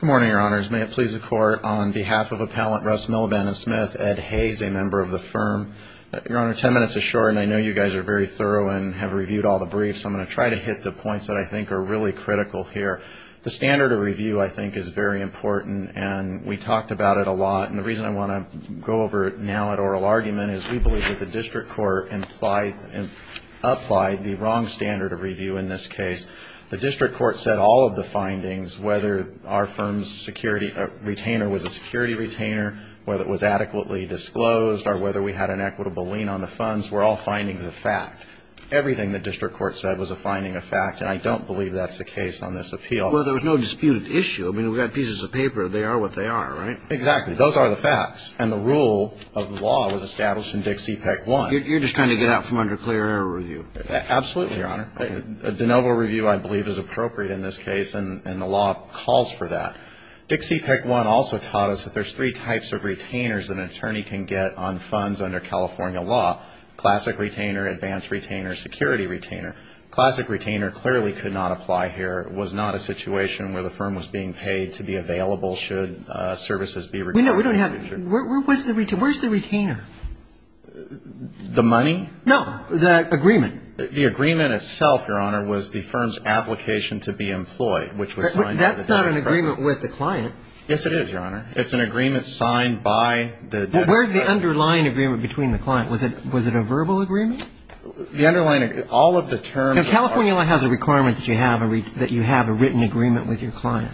Good morning, Your Honors. May it please the Court, on behalf of Appellant Russ Miliband & Smith, Ed Hayes, a member of the firm. Your Honor, ten minutes is short, and I know you guys are very thorough and have reviewed all the briefs. I'm going to try to hit the points that I think are really critical here. The standard of review, I think, is very important, and we talked about it a lot. And the reason I want to go over it now at oral argument is we believe that the district court applied the wrong standard of review in this case. The district court said all of the findings, whether our firm's security retainer was a security retainer, whether it was adequately disclosed, or whether we had an equitable lien on the funds, were all findings of fact. Everything the district court said was a finding of fact, and I don't believe that's the case on this appeal. Well, there was no disputed issue. I mean, we've got pieces of paper. They are what they are, right? Exactly. Those are the facts, and the rule of the law was established in Dixie Peck 1. You're just trying to get out from under clear error review. Absolutely, Your Honor. De novo review, I believe, is appropriate in this case, and the law calls for that. Dixie Peck 1 also taught us that there's three types of retainers that an attorney can get on funds under California law, classic retainer, advanced retainer, security retainer. Classic retainer clearly could not apply here. It was not a situation where the firm was being paid to be available should services be required. No, we don't have. Where's the retainer? The money? No, the agreement. The agreement itself, Your Honor, was the firm's application to be employed, which was signed by the dead person. That's not an agreement with the client. Yes, it is, Your Honor. It's an agreement signed by the dead person. Well, where's the underlying agreement between the client? Was it a verbal agreement? The underlying agreement, all of the terms of our law. Now, California law has a requirement that you have a written agreement with your client.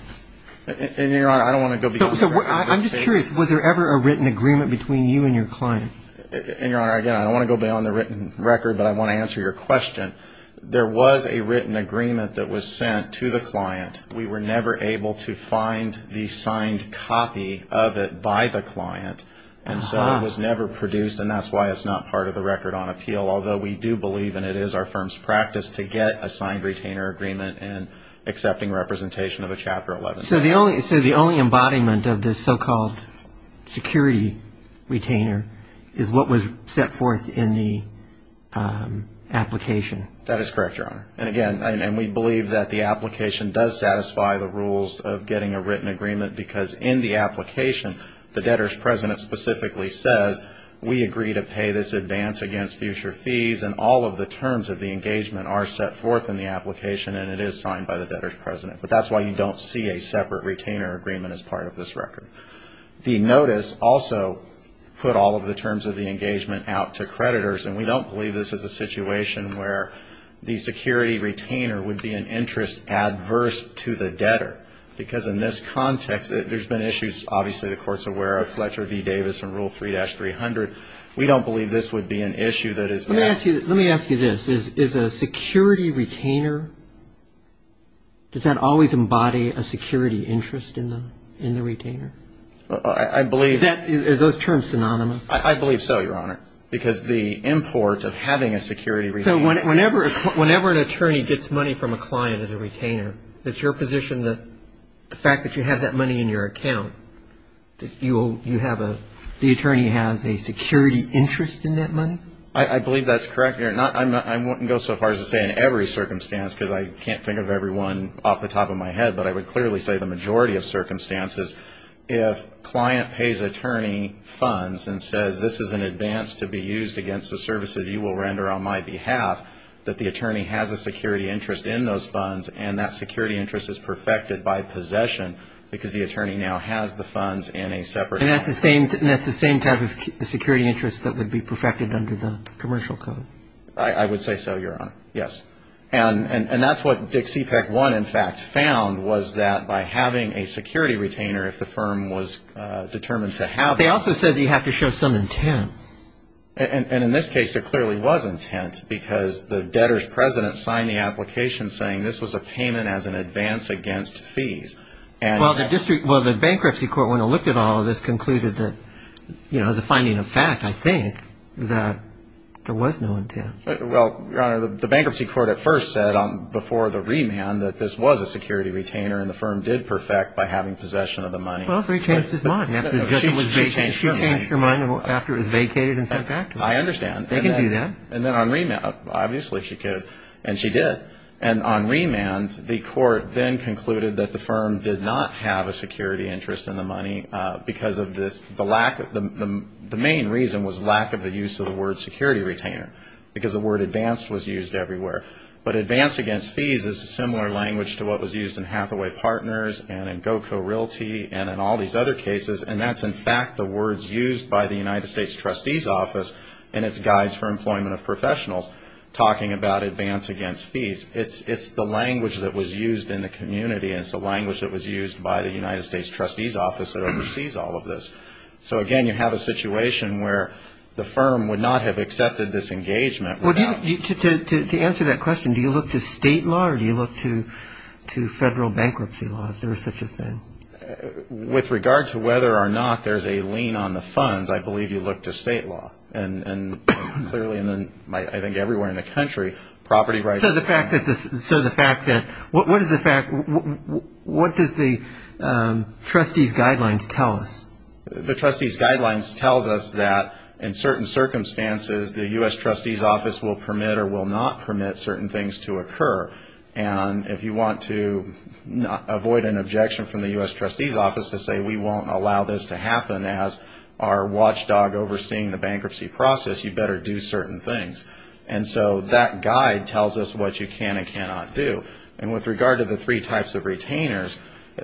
And, Your Honor, I don't want to go beyond that. So I'm just curious. Was there ever a written agreement between you and your client? And, Your Honor, again, I don't want to go beyond the written record, but I want to answer your question. There was a written agreement that was sent to the client. We were never able to find the signed copy of it by the client. And so it was never produced, and that's why it's not part of the record on appeal, although we do believe, and it is our firm's practice, to get a signed retainer agreement and accepting representation of a Chapter 11. So the only embodiment of this so-called security retainer is what was set forth in the application. That is correct, Your Honor. And, again, we believe that the application does satisfy the rules of getting a written agreement because in the application, the debtor's president specifically says, we agree to pay this advance against future fees, and all of the terms of the engagement are set forth in the application, and it is signed by the debtor's president. But that's why you don't see a separate retainer agreement as part of this record. The notice also put all of the terms of the engagement out to creditors, and we don't believe this is a situation where the security retainer would be an interest adverse to the debtor because in this context, there's been issues, obviously, the Court's aware of, Fletcher v. Davis and Rule 3-300. We don't believe this would be an issue that is at risk. Does that always embody a security interest in the retainer? I believe that. Are those terms synonymous? I believe so, Your Honor, because the import of having a security retainer. So whenever an attorney gets money from a client as a retainer, it's your position that the fact that you have that money in your account, that you have a – the attorney has a security interest in that money? I believe that's correct. Your Honor, I wouldn't go so far as to say in every circumstance because I can't think of every one off the top of my head, but I would clearly say the majority of circumstances, if client pays attorney funds and says, this is an advance to be used against the services you will render on my behalf, that the attorney has a security interest in those funds and that security interest is perfected by possession because the attorney now has the funds in a separate account. And that's the same type of security interest that would be perfected under the commercial code? I would say so, Your Honor, yes. And that's what Dixie PAC-1, in fact, found was that by having a security retainer if the firm was determined to have it. They also said you have to show some intent. And in this case, there clearly was intent because the debtor's president signed the application saying this was a payment as an advance against fees. Well, the bankruptcy court, when it looked at all of this, concluded that as a finding of fact, I think, that there was no intent. Well, Your Honor, the bankruptcy court at first said before the remand that this was a security retainer and the firm did perfect by having possession of the money. Well, so he changed his mind. She changed her mind after it was vacated and sent back to her. I understand. They can do that. And then on remand, obviously she could, and she did. And on remand, the court then concluded that the firm did not have a security interest in the money because the main reason was lack of the use of the word security retainer because the word advance was used everywhere. But advance against fees is a similar language to what was used in Hathaway Partners and in GoCo Realty and in all these other cases. And that's, in fact, the words used by the United States Trustee's Office and its Guides for Employment of Professionals talking about advance against fees. It's the language that was used in the community and it's the language that was used by the United States Trustee's Office that oversees all of this. So, again, you have a situation where the firm would not have accepted this engagement. Well, to answer that question, do you look to state law or do you look to federal bankruptcy law if there is such a thing? With regard to whether or not there's a lien on the funds, I believe you look to state law. And clearly, I think everywhere in the country, property rights. So the fact that what does the Trustee's Guidelines tell us? The Trustee's Guidelines tells us that in certain circumstances, the U.S. Trustee's Office will permit or will not permit certain things to occur. And if you want to avoid an objection from the U.S. Trustee's Office to say we won't allow this to happen as our watchdog overseeing the bankruptcy process, you better do certain things. And so that guide tells us what you can and cannot do. And with regard to the three types of retainers,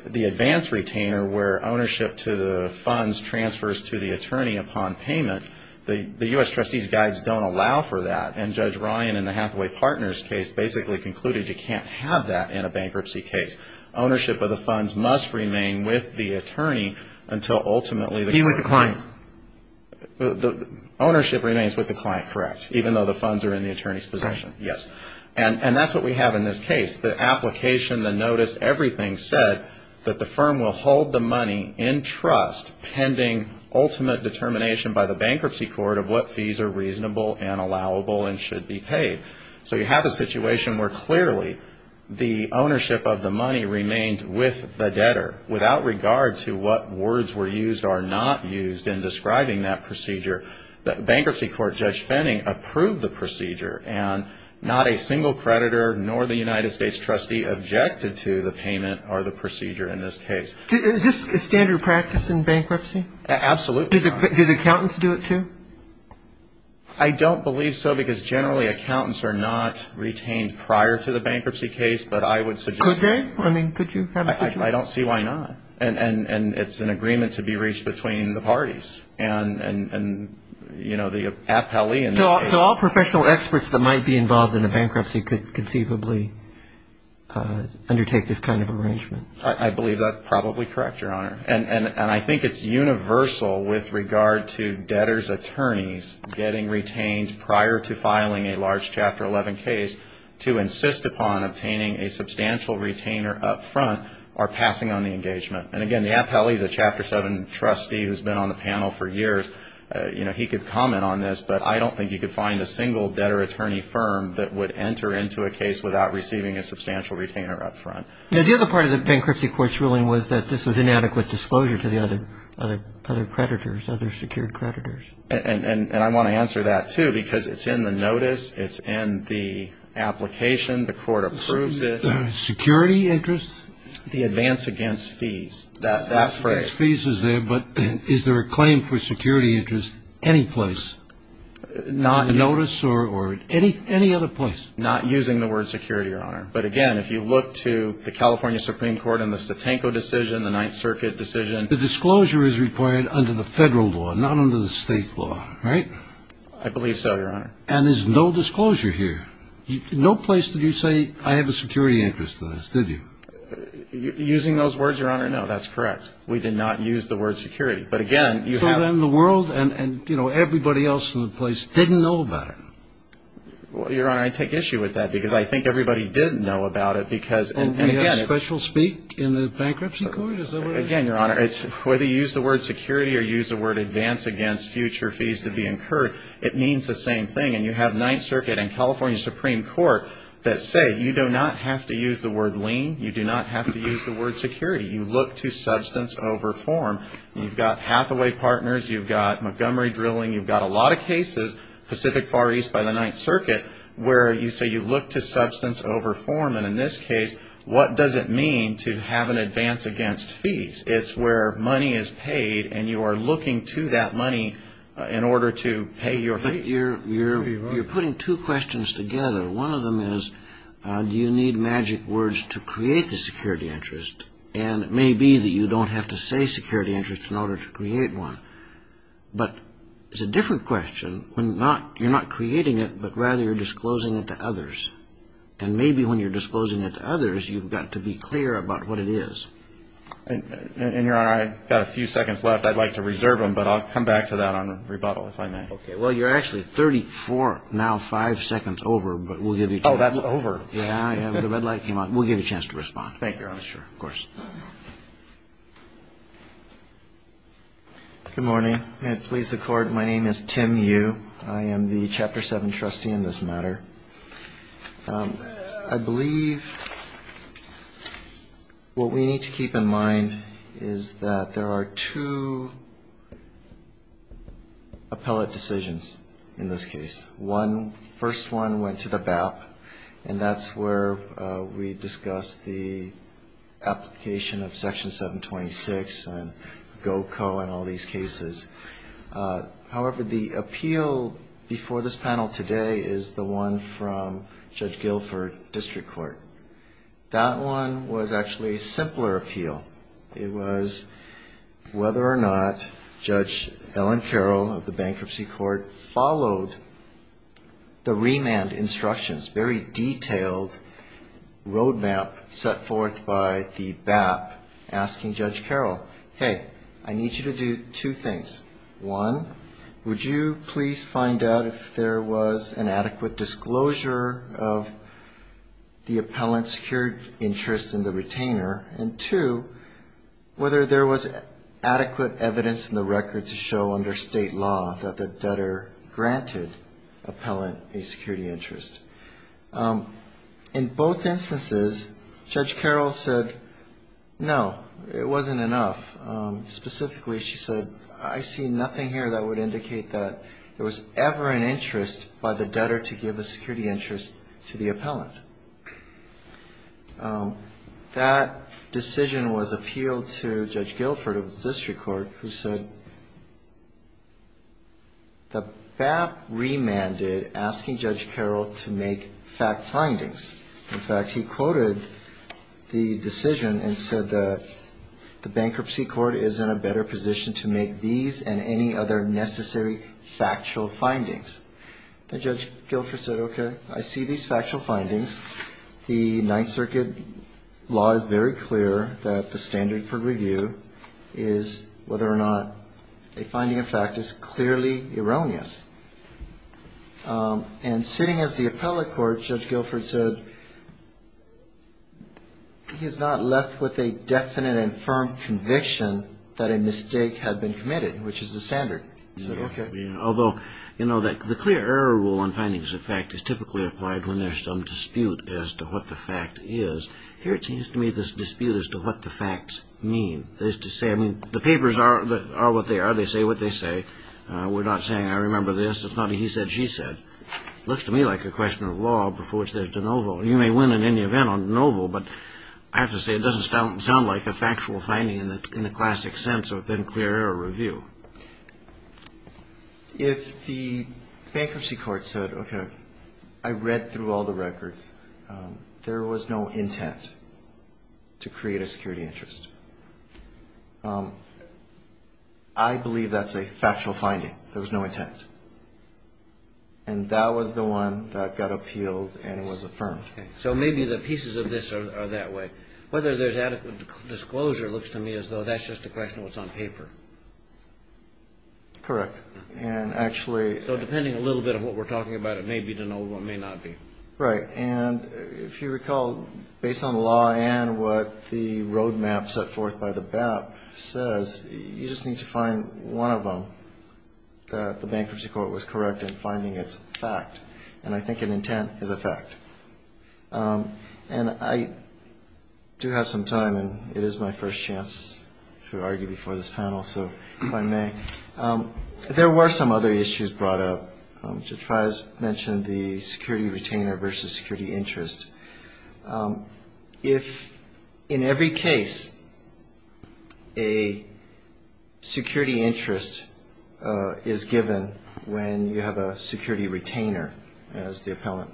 the advance retainer, where ownership to the funds transfers to the attorney upon payment, the U.S. Trustee's Guides don't allow for that. And Judge Ryan in the Hathaway Partners case basically concluded you can't have that in a bankruptcy case. Ownership of the funds must remain with the attorney until ultimately the client... Be with the client. Ownership remains with the client, correct, even though the funds are in the attorney's possession. Yes. And that's what we have in this case. The application, the notice, everything said that the firm will hold the money in trust pending ultimate determination by the bankruptcy court of what fees are reasonable and allowable and should be paid. So you have a situation where clearly the ownership of the money remains with the debtor without regard to what words were used or not used in describing that procedure. The bankruptcy court, Judge Fenning, approved the procedure, and not a single creditor nor the United States Trustee objected to the payment or the procedure in this case. Is this a standard practice in bankruptcy? Absolutely. Do the accountants do it too? I don't believe so because generally accountants are not retained prior to the bankruptcy case, but I would suggest... Could they? I mean, could you have a situation... I don't see why not. And it's an agreement to be reached between the parties and, you know, the appellee... So all professional experts that might be involved in a bankruptcy could conceivably undertake this kind of arrangement. I believe that's probably correct, Your Honor. And I think it's universal with regard to debtors' attorneys getting retained prior to filing a large Chapter 11 case to insist upon obtaining a substantial retainer up front or passing on the engagement. And, again, the appellee is a Chapter 7 trustee who's been on the panel for years. You know, he could comment on this, but I don't think you could find a single debtor attorney firm that would enter into a case without receiving a substantial retainer up front. Now, the other part of the bankruptcy court's ruling was that this was inadequate disclosure to the other creditors, other secured creditors. And I want to answer that, too, because it's in the notice, it's in the application, the court approves it. Security interests? The advance against fees, that phrase. Advance against fees is there, but is there a claim for security interest any place? Not... Not using the word security, Your Honor. But, again, if you look to the California Supreme Court and the Satenko decision, the Ninth Circuit decision, the disclosure is required under the federal law, not under the state law, right? I believe so, Your Honor. And there's no disclosure here. No place did you say, I have a security interest in this, did you? Using those words, Your Honor, no, that's correct. We did not use the word security. But, again, you have... So then the world and, you know, everybody else in the place didn't know about it. Well, Your Honor, I take issue with that because I think everybody did know about it because... And we have special speak in the bankruptcy court? Again, Your Honor, whether you use the word security or use the word advance against future fees to be incurred, it means the same thing. And you have Ninth Circuit and California Supreme Court that say you do not have to use the word lien, you do not have to use the word security. You look to substance over form. You've got Hathaway Partners, you've got Montgomery Drilling, you've got a lot of cases, Pacific Far East by the Ninth Circuit where you say you look to substance over form. And in this case, what does it mean to have an advance against fees? It's where money is paid and you are looking to that money in order to pay your fees. You're putting two questions together. One of them is, do you need magic words to create the security interest? And it may be that you don't have to say security interest in order to create one. But it's a different question when you're not creating it, but rather you're disclosing it to others. And maybe when you're disclosing it to others, you've got to be clear about what it is. And, Your Honor, I've got a few seconds left. I'd like to reserve them, but I'll come back to that on rebuttal if I may. Okay. Well, you're actually 34, now five seconds over, but we'll give you a chance. Oh, that's over. Yeah, the red light came on. We'll give you a chance to respond. Thank you, Your Honor. Sure, of course. Good morning. And please accord, my name is Tim Yu. I am the Chapter 7 trustee in this matter. I believe what we need to keep in mind is that there are two appellate decisions in this case. One, first one went to the BAP, and that's where we discussed the application of Section 726 and GOCO and all these cases. However, the appeal before this panel today is the one from Judge Guilford, District Court. That one was actually a simpler appeal. It was whether or not Judge Ellen Carroll of the Bankruptcy Court followed the remand instructions, very detailed roadmap set forth by the BAP asking Judge Carroll, hey, I need you to do two things. One, would you please find out if there was an adequate disclosure of the appellant's secured interest in the retainer? Two, whether there was adequate evidence in the record to show under state law that the debtor granted appellant a security interest. In both instances, Judge Carroll said, no, it wasn't enough. Specifically, she said, I see nothing here that would indicate that there was ever an interest by the debtor to give a security interest to the appellant. That decision was appealed to Judge Guilford of the District Court, who said the BAP remanded asking Judge Carroll to make fact findings. In fact, he quoted the decision and said the Bankruptcy Court is in a better position to make these and any other necessary factual findings. And Judge Guilford said, okay, I see these factual findings. The Ninth Circuit law is very clear that the standard for review is whether or not a finding of fact is clearly erroneous. And sitting as the appellate court, Judge Guilford said he's not left with a definite and firm conviction that a mistake had been committed, which is the standard. Although the clear error rule on findings of fact is typically applied when there's some dispute as to what the fact is. Here it seems to me there's a dispute as to what the facts mean. The papers are what they are. They say what they say. We're not saying I remember this. It's not a he said, she said. It looks to me like a question of law before which there's de novo. You may win in any event on de novo, but I have to say it doesn't sound like a factual finding in the classic sense of then clear error review. If the Bankruptcy Court said, okay, I read through all the records. There was no intent to create a security interest. I believe that's a factual finding. There was no intent. And that was the one that got appealed and was affirmed. So maybe the pieces of this are that way. Whether there's adequate disclosure looks to me as though that's just a question of what's on paper. Correct. And actually. So depending a little bit on what we're talking about, it may be de novo, it may not be. Right. And if you recall, based on the law and what the roadmap set forth by the BAP says, you just need to find one of them that the Bankruptcy Court was correct in finding its fact. And I think an intent is a fact. And I do have some time, and it is my first chance to argue before this panel. So if I may, there were some other issues brought up. Judge Fries mentioned the security retainer versus security interest. If in every case a security interest is given when you have a security retainer, as the appellant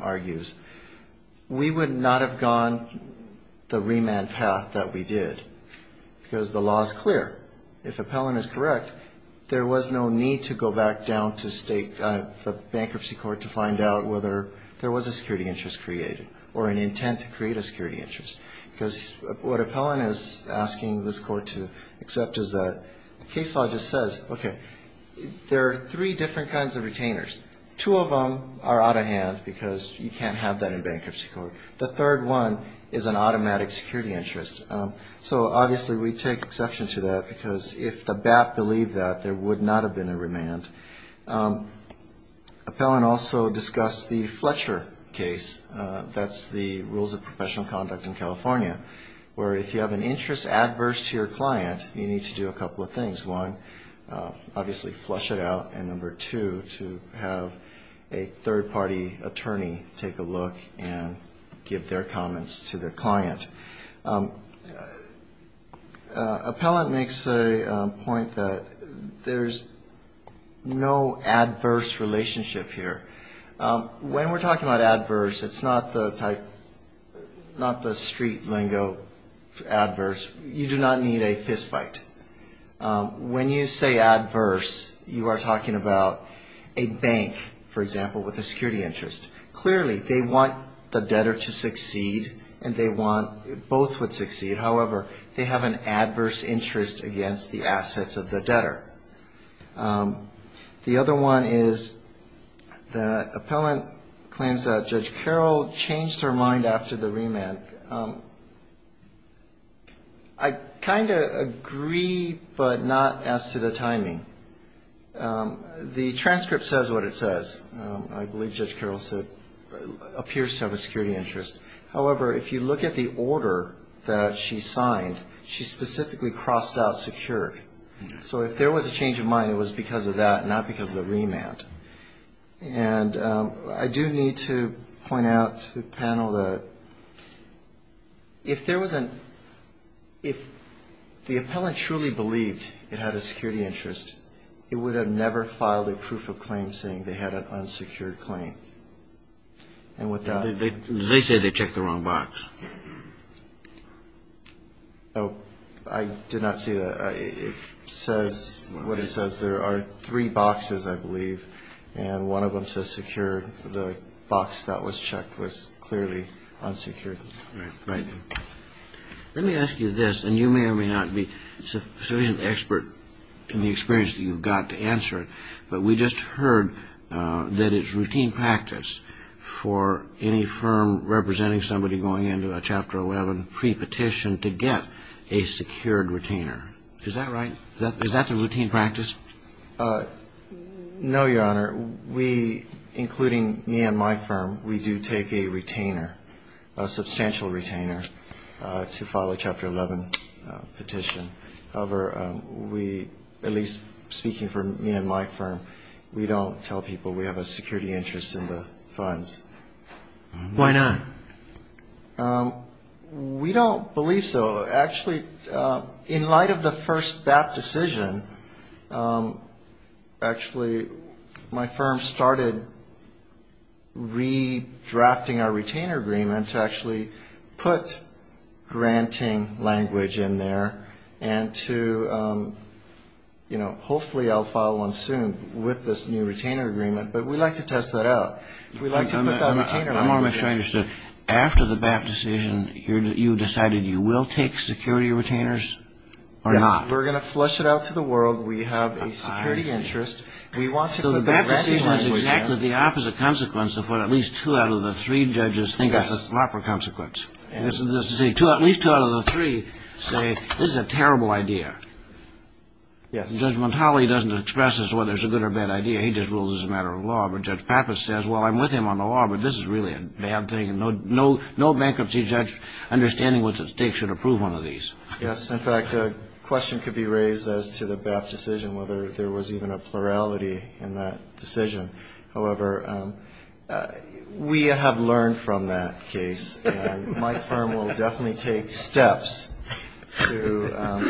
argues, we would not have gone the remand path that we did, because the law is clear. If appellant is correct, there was no need to go back down to the Bankruptcy Court to find out whether there was a security interest created or an intent to create a security interest. Because what appellant is asking this Court to accept is that the case law just says, okay, there are three different kinds of retainers. Two of them are out of hand, because you can't have that in Bankruptcy Court. The third one is an automatic security interest. So obviously we take exception to that, because if the BAP believed that, there would not have been a remand. Appellant also discussed the Fletcher case, that's the rules of professional conduct in California, where if you have an interest adverse to your client, you need to do a couple of things. One, obviously flush it out, and number two, to have a third-party attorney take a look and give their comments to their client. Appellant makes a point that there's no adverse relationship here. When we're talking about adverse, it's not the street lingo adverse. You do not need a fistfight. When you say adverse, you are talking about a bank, for example, with a security interest. Clearly, they want the debtor to succeed, and they want both would succeed. However, they have an adverse interest against the assets of the debtor. The other one is the appellant claims that Judge Carroll changed her mind after the remand. I kind of agree, but not as to the timing. The transcript says what it says. I believe Judge Carroll said, appears to have a security interest. However, if you look at the order that she signed, she specifically crossed out secured. So if there was a change of mind, it was because of that, not because of the remand. And I do need to point out to the panel that if there was an, if the appellant truly believed it had a security interest, it would have never filed a proof of claim saying they had an unsecured claim. And with that... I did not see that. It says, what it says, there are three boxes, I believe, and one of them says secured. The box that was checked was clearly unsecured. Let me ask you this, and you may or may not be sufficiently expert in the experience that you've got to answer it, but we just heard that it's routine practice for any firm representing somebody going into a Chapter 11 pre-petition to get a secured retainer. Is that right? Is that the routine practice? No, Your Honor. We, including me and my firm, we do take a retainer. A substantial retainer to file a Chapter 11 petition. However, we, at least speaking for me and my firm, we don't tell people we have a security interest in the funds. Why not? We don't believe so. Actually, in light of the first BAP decision, actually, my firm started redrafting our retainer agreement to actually put granting language in there and to, you know, hopefully I'll file one soon with this new retainer agreement, but we'd like to test that out. We'd like to put that retainer in there. I'm not sure I understood. After the BAP decision, you decided you will take security retainers or not? Yes. We're going to flush it out to the world. We have a security interest. We want to put granting language in. We're going to put at least two out of the three judges think it's a proper consequence. At least two out of the three say this is a terrible idea. Judge Montali doesn't express whether it's a good or bad idea. He just rules it's a matter of law. But Judge Pappas says, well, I'm with him on the law, but this is really a bad thing. And no bankruptcy judge understanding what's at stake should approve one of these. Yes. In fact, a question could be raised as to the BAP decision, whether there was even a plurality in that decision. However, we have learned from that case. My firm will definitely take steps to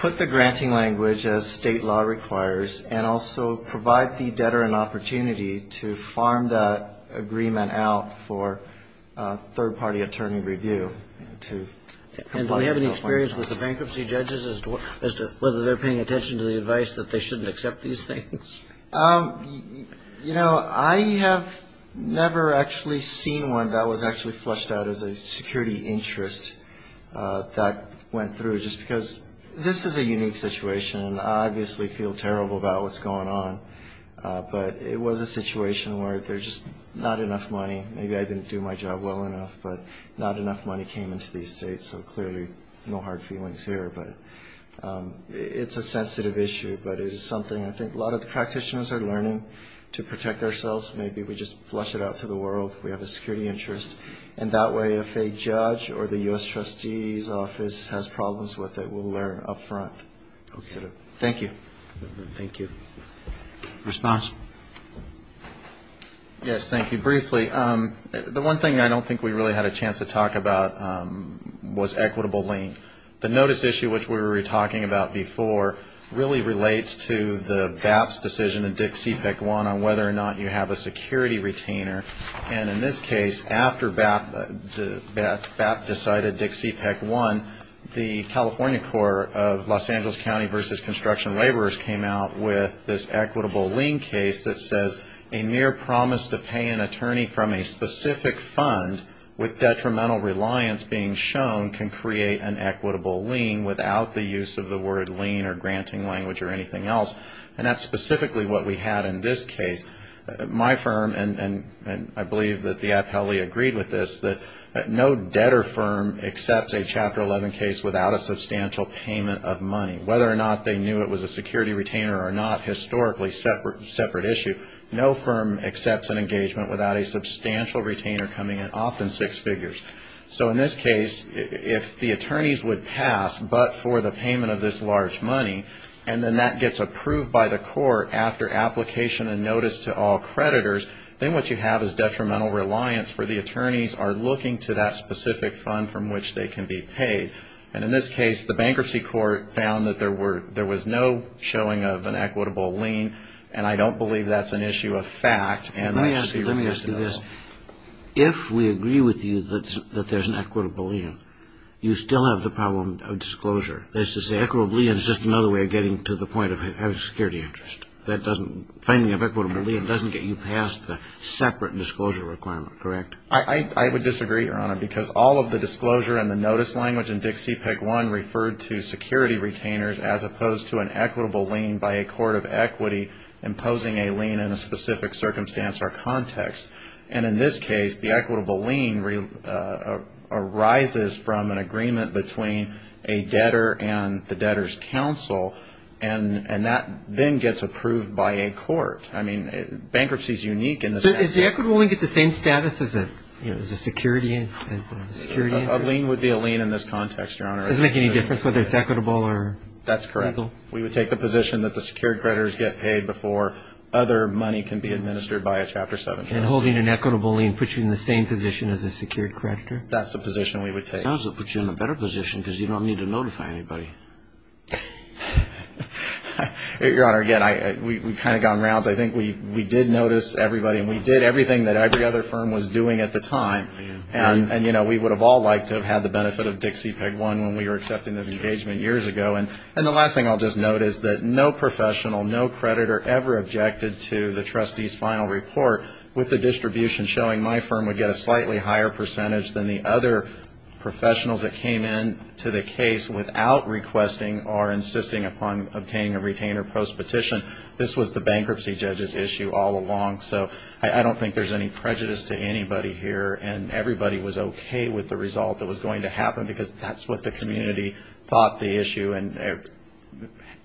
put the granting language, as State law requires, and also provide the debtor an opportunity to farm that agreement out for third-party attorney review. And do we have any experience with the bankruptcy judges as to whether they're paying attention to the advice that they shouldn't accept these things? You know, I have never actually seen one that was actually flushed out as a security interest that went through, just because this is a unique situation. And I obviously feel terrible about what's going on. But it was a situation where there's just not enough money. Maybe I didn't do my job well enough, but not enough money came into these states, so clearly no hard feelings here. But it's a sensitive issue, but it is something I think a lot of the practitioners are learning to protect ourselves. Maybe we just flush it out to the world. We have a security interest, and that way if a judge or the U.S. Trustee's office has problems with it, we'll learn up front. Thank you. Response? Yes, thank you. Briefly, the one thing I don't think we really had a chance to talk about was equitable lien. The notice issue, which we were talking about before, really relates to the BAP's decision in DICC-CPEC-1 on whether or not you have a security retainer. And in this case, after BAP decided DICC-CPEC-1, the California Corps of Los Angeles County v. Construction Laborers came out with this equitable lien case that says a mere promise to pay an attorney from a specific fund with detrimental reliance being shown can create an equitable lien without the use of the word lien or granting language or anything else. And that's specifically what we had in this case. My firm, and I believe that the IPLE agreed with this, that no debtor firm accepts a Chapter 11 case without a substantial payment of money. Whether or not they knew it was a security retainer or not, historically, separate issue. No firm accepts an engagement without a substantial retainer coming in, often six figures. So in this case, if the attorneys would pass but for the payment of this large money, and then that gets approved by the attorney, and then that gets approved by the court after application and notice to all creditors, then what you have is detrimental reliance for the attorneys are looking to that specific fund from which they can be paid. And in this case, the Bankruptcy Court found that there was no showing of an equitable lien, and I don't believe that's an issue of fact. And I see why it's not at all. If we agree with you that there's an equitable lien, you still have the problem of disclosure. That is to say, equitable lien is just another way of getting to the point of having security interest. Finding an equitable lien doesn't get you past the separate disclosure requirement, correct? I would disagree, Your Honor, because all of the disclosure and the notice language in Dixie Peg 1 referred to security retainers as opposed to an equitable lien by a court of equity imposing a lien in a specific circumstance or context. And in this case, the equitable lien arises from an agreement between a debtor and the debtor's counsel, and that then gets approved by a court. I mean, bankruptcy is unique in this sense. Does the equitable lien get the same status as a security lien? A lien would be a lien in this context, Your Honor. Does it make any difference whether it's equitable or equitable? That's correct. We would take the position that the secured creditors get paid before other money can be administered by a Chapter 7 trustee. And holding an equitable lien puts you in the same position as a secured creditor? That's the position we would take. Your counsel puts you in a better position because you don't need to notify anybody. Your Honor, again, we've kind of gone rounds. I think we did notice everybody, and we did everything that every other firm was doing at the time. And we would have all liked to have had the benefit of Dixie Peg 1 when we were accepting this engagement years ago. And the last thing I'll just note is that no professional, no creditor ever objected to the trustee's final report with the distribution showing my firm would get a slightly higher percentage than the other professionals that came in to the case without requesting or insisting upon obtaining a retainer post-petition. This was the bankruptcy judge's issue all along, so I don't think there's any prejudice to anybody here. And everybody was okay with the result that was going to happen because that's what the community thought the issue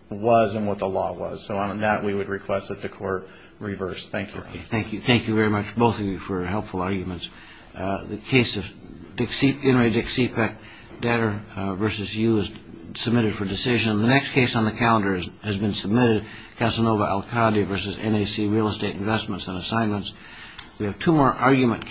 was and what the law was. So on that, we would request that the Court reverse. Thank you. Thank you. Thank you very much, both of you, for helpful arguments. The next case on the calendar has been submitted, Casanova Alcadia v. NAC Real Estate Investments and Assignments. We have two more argument cases.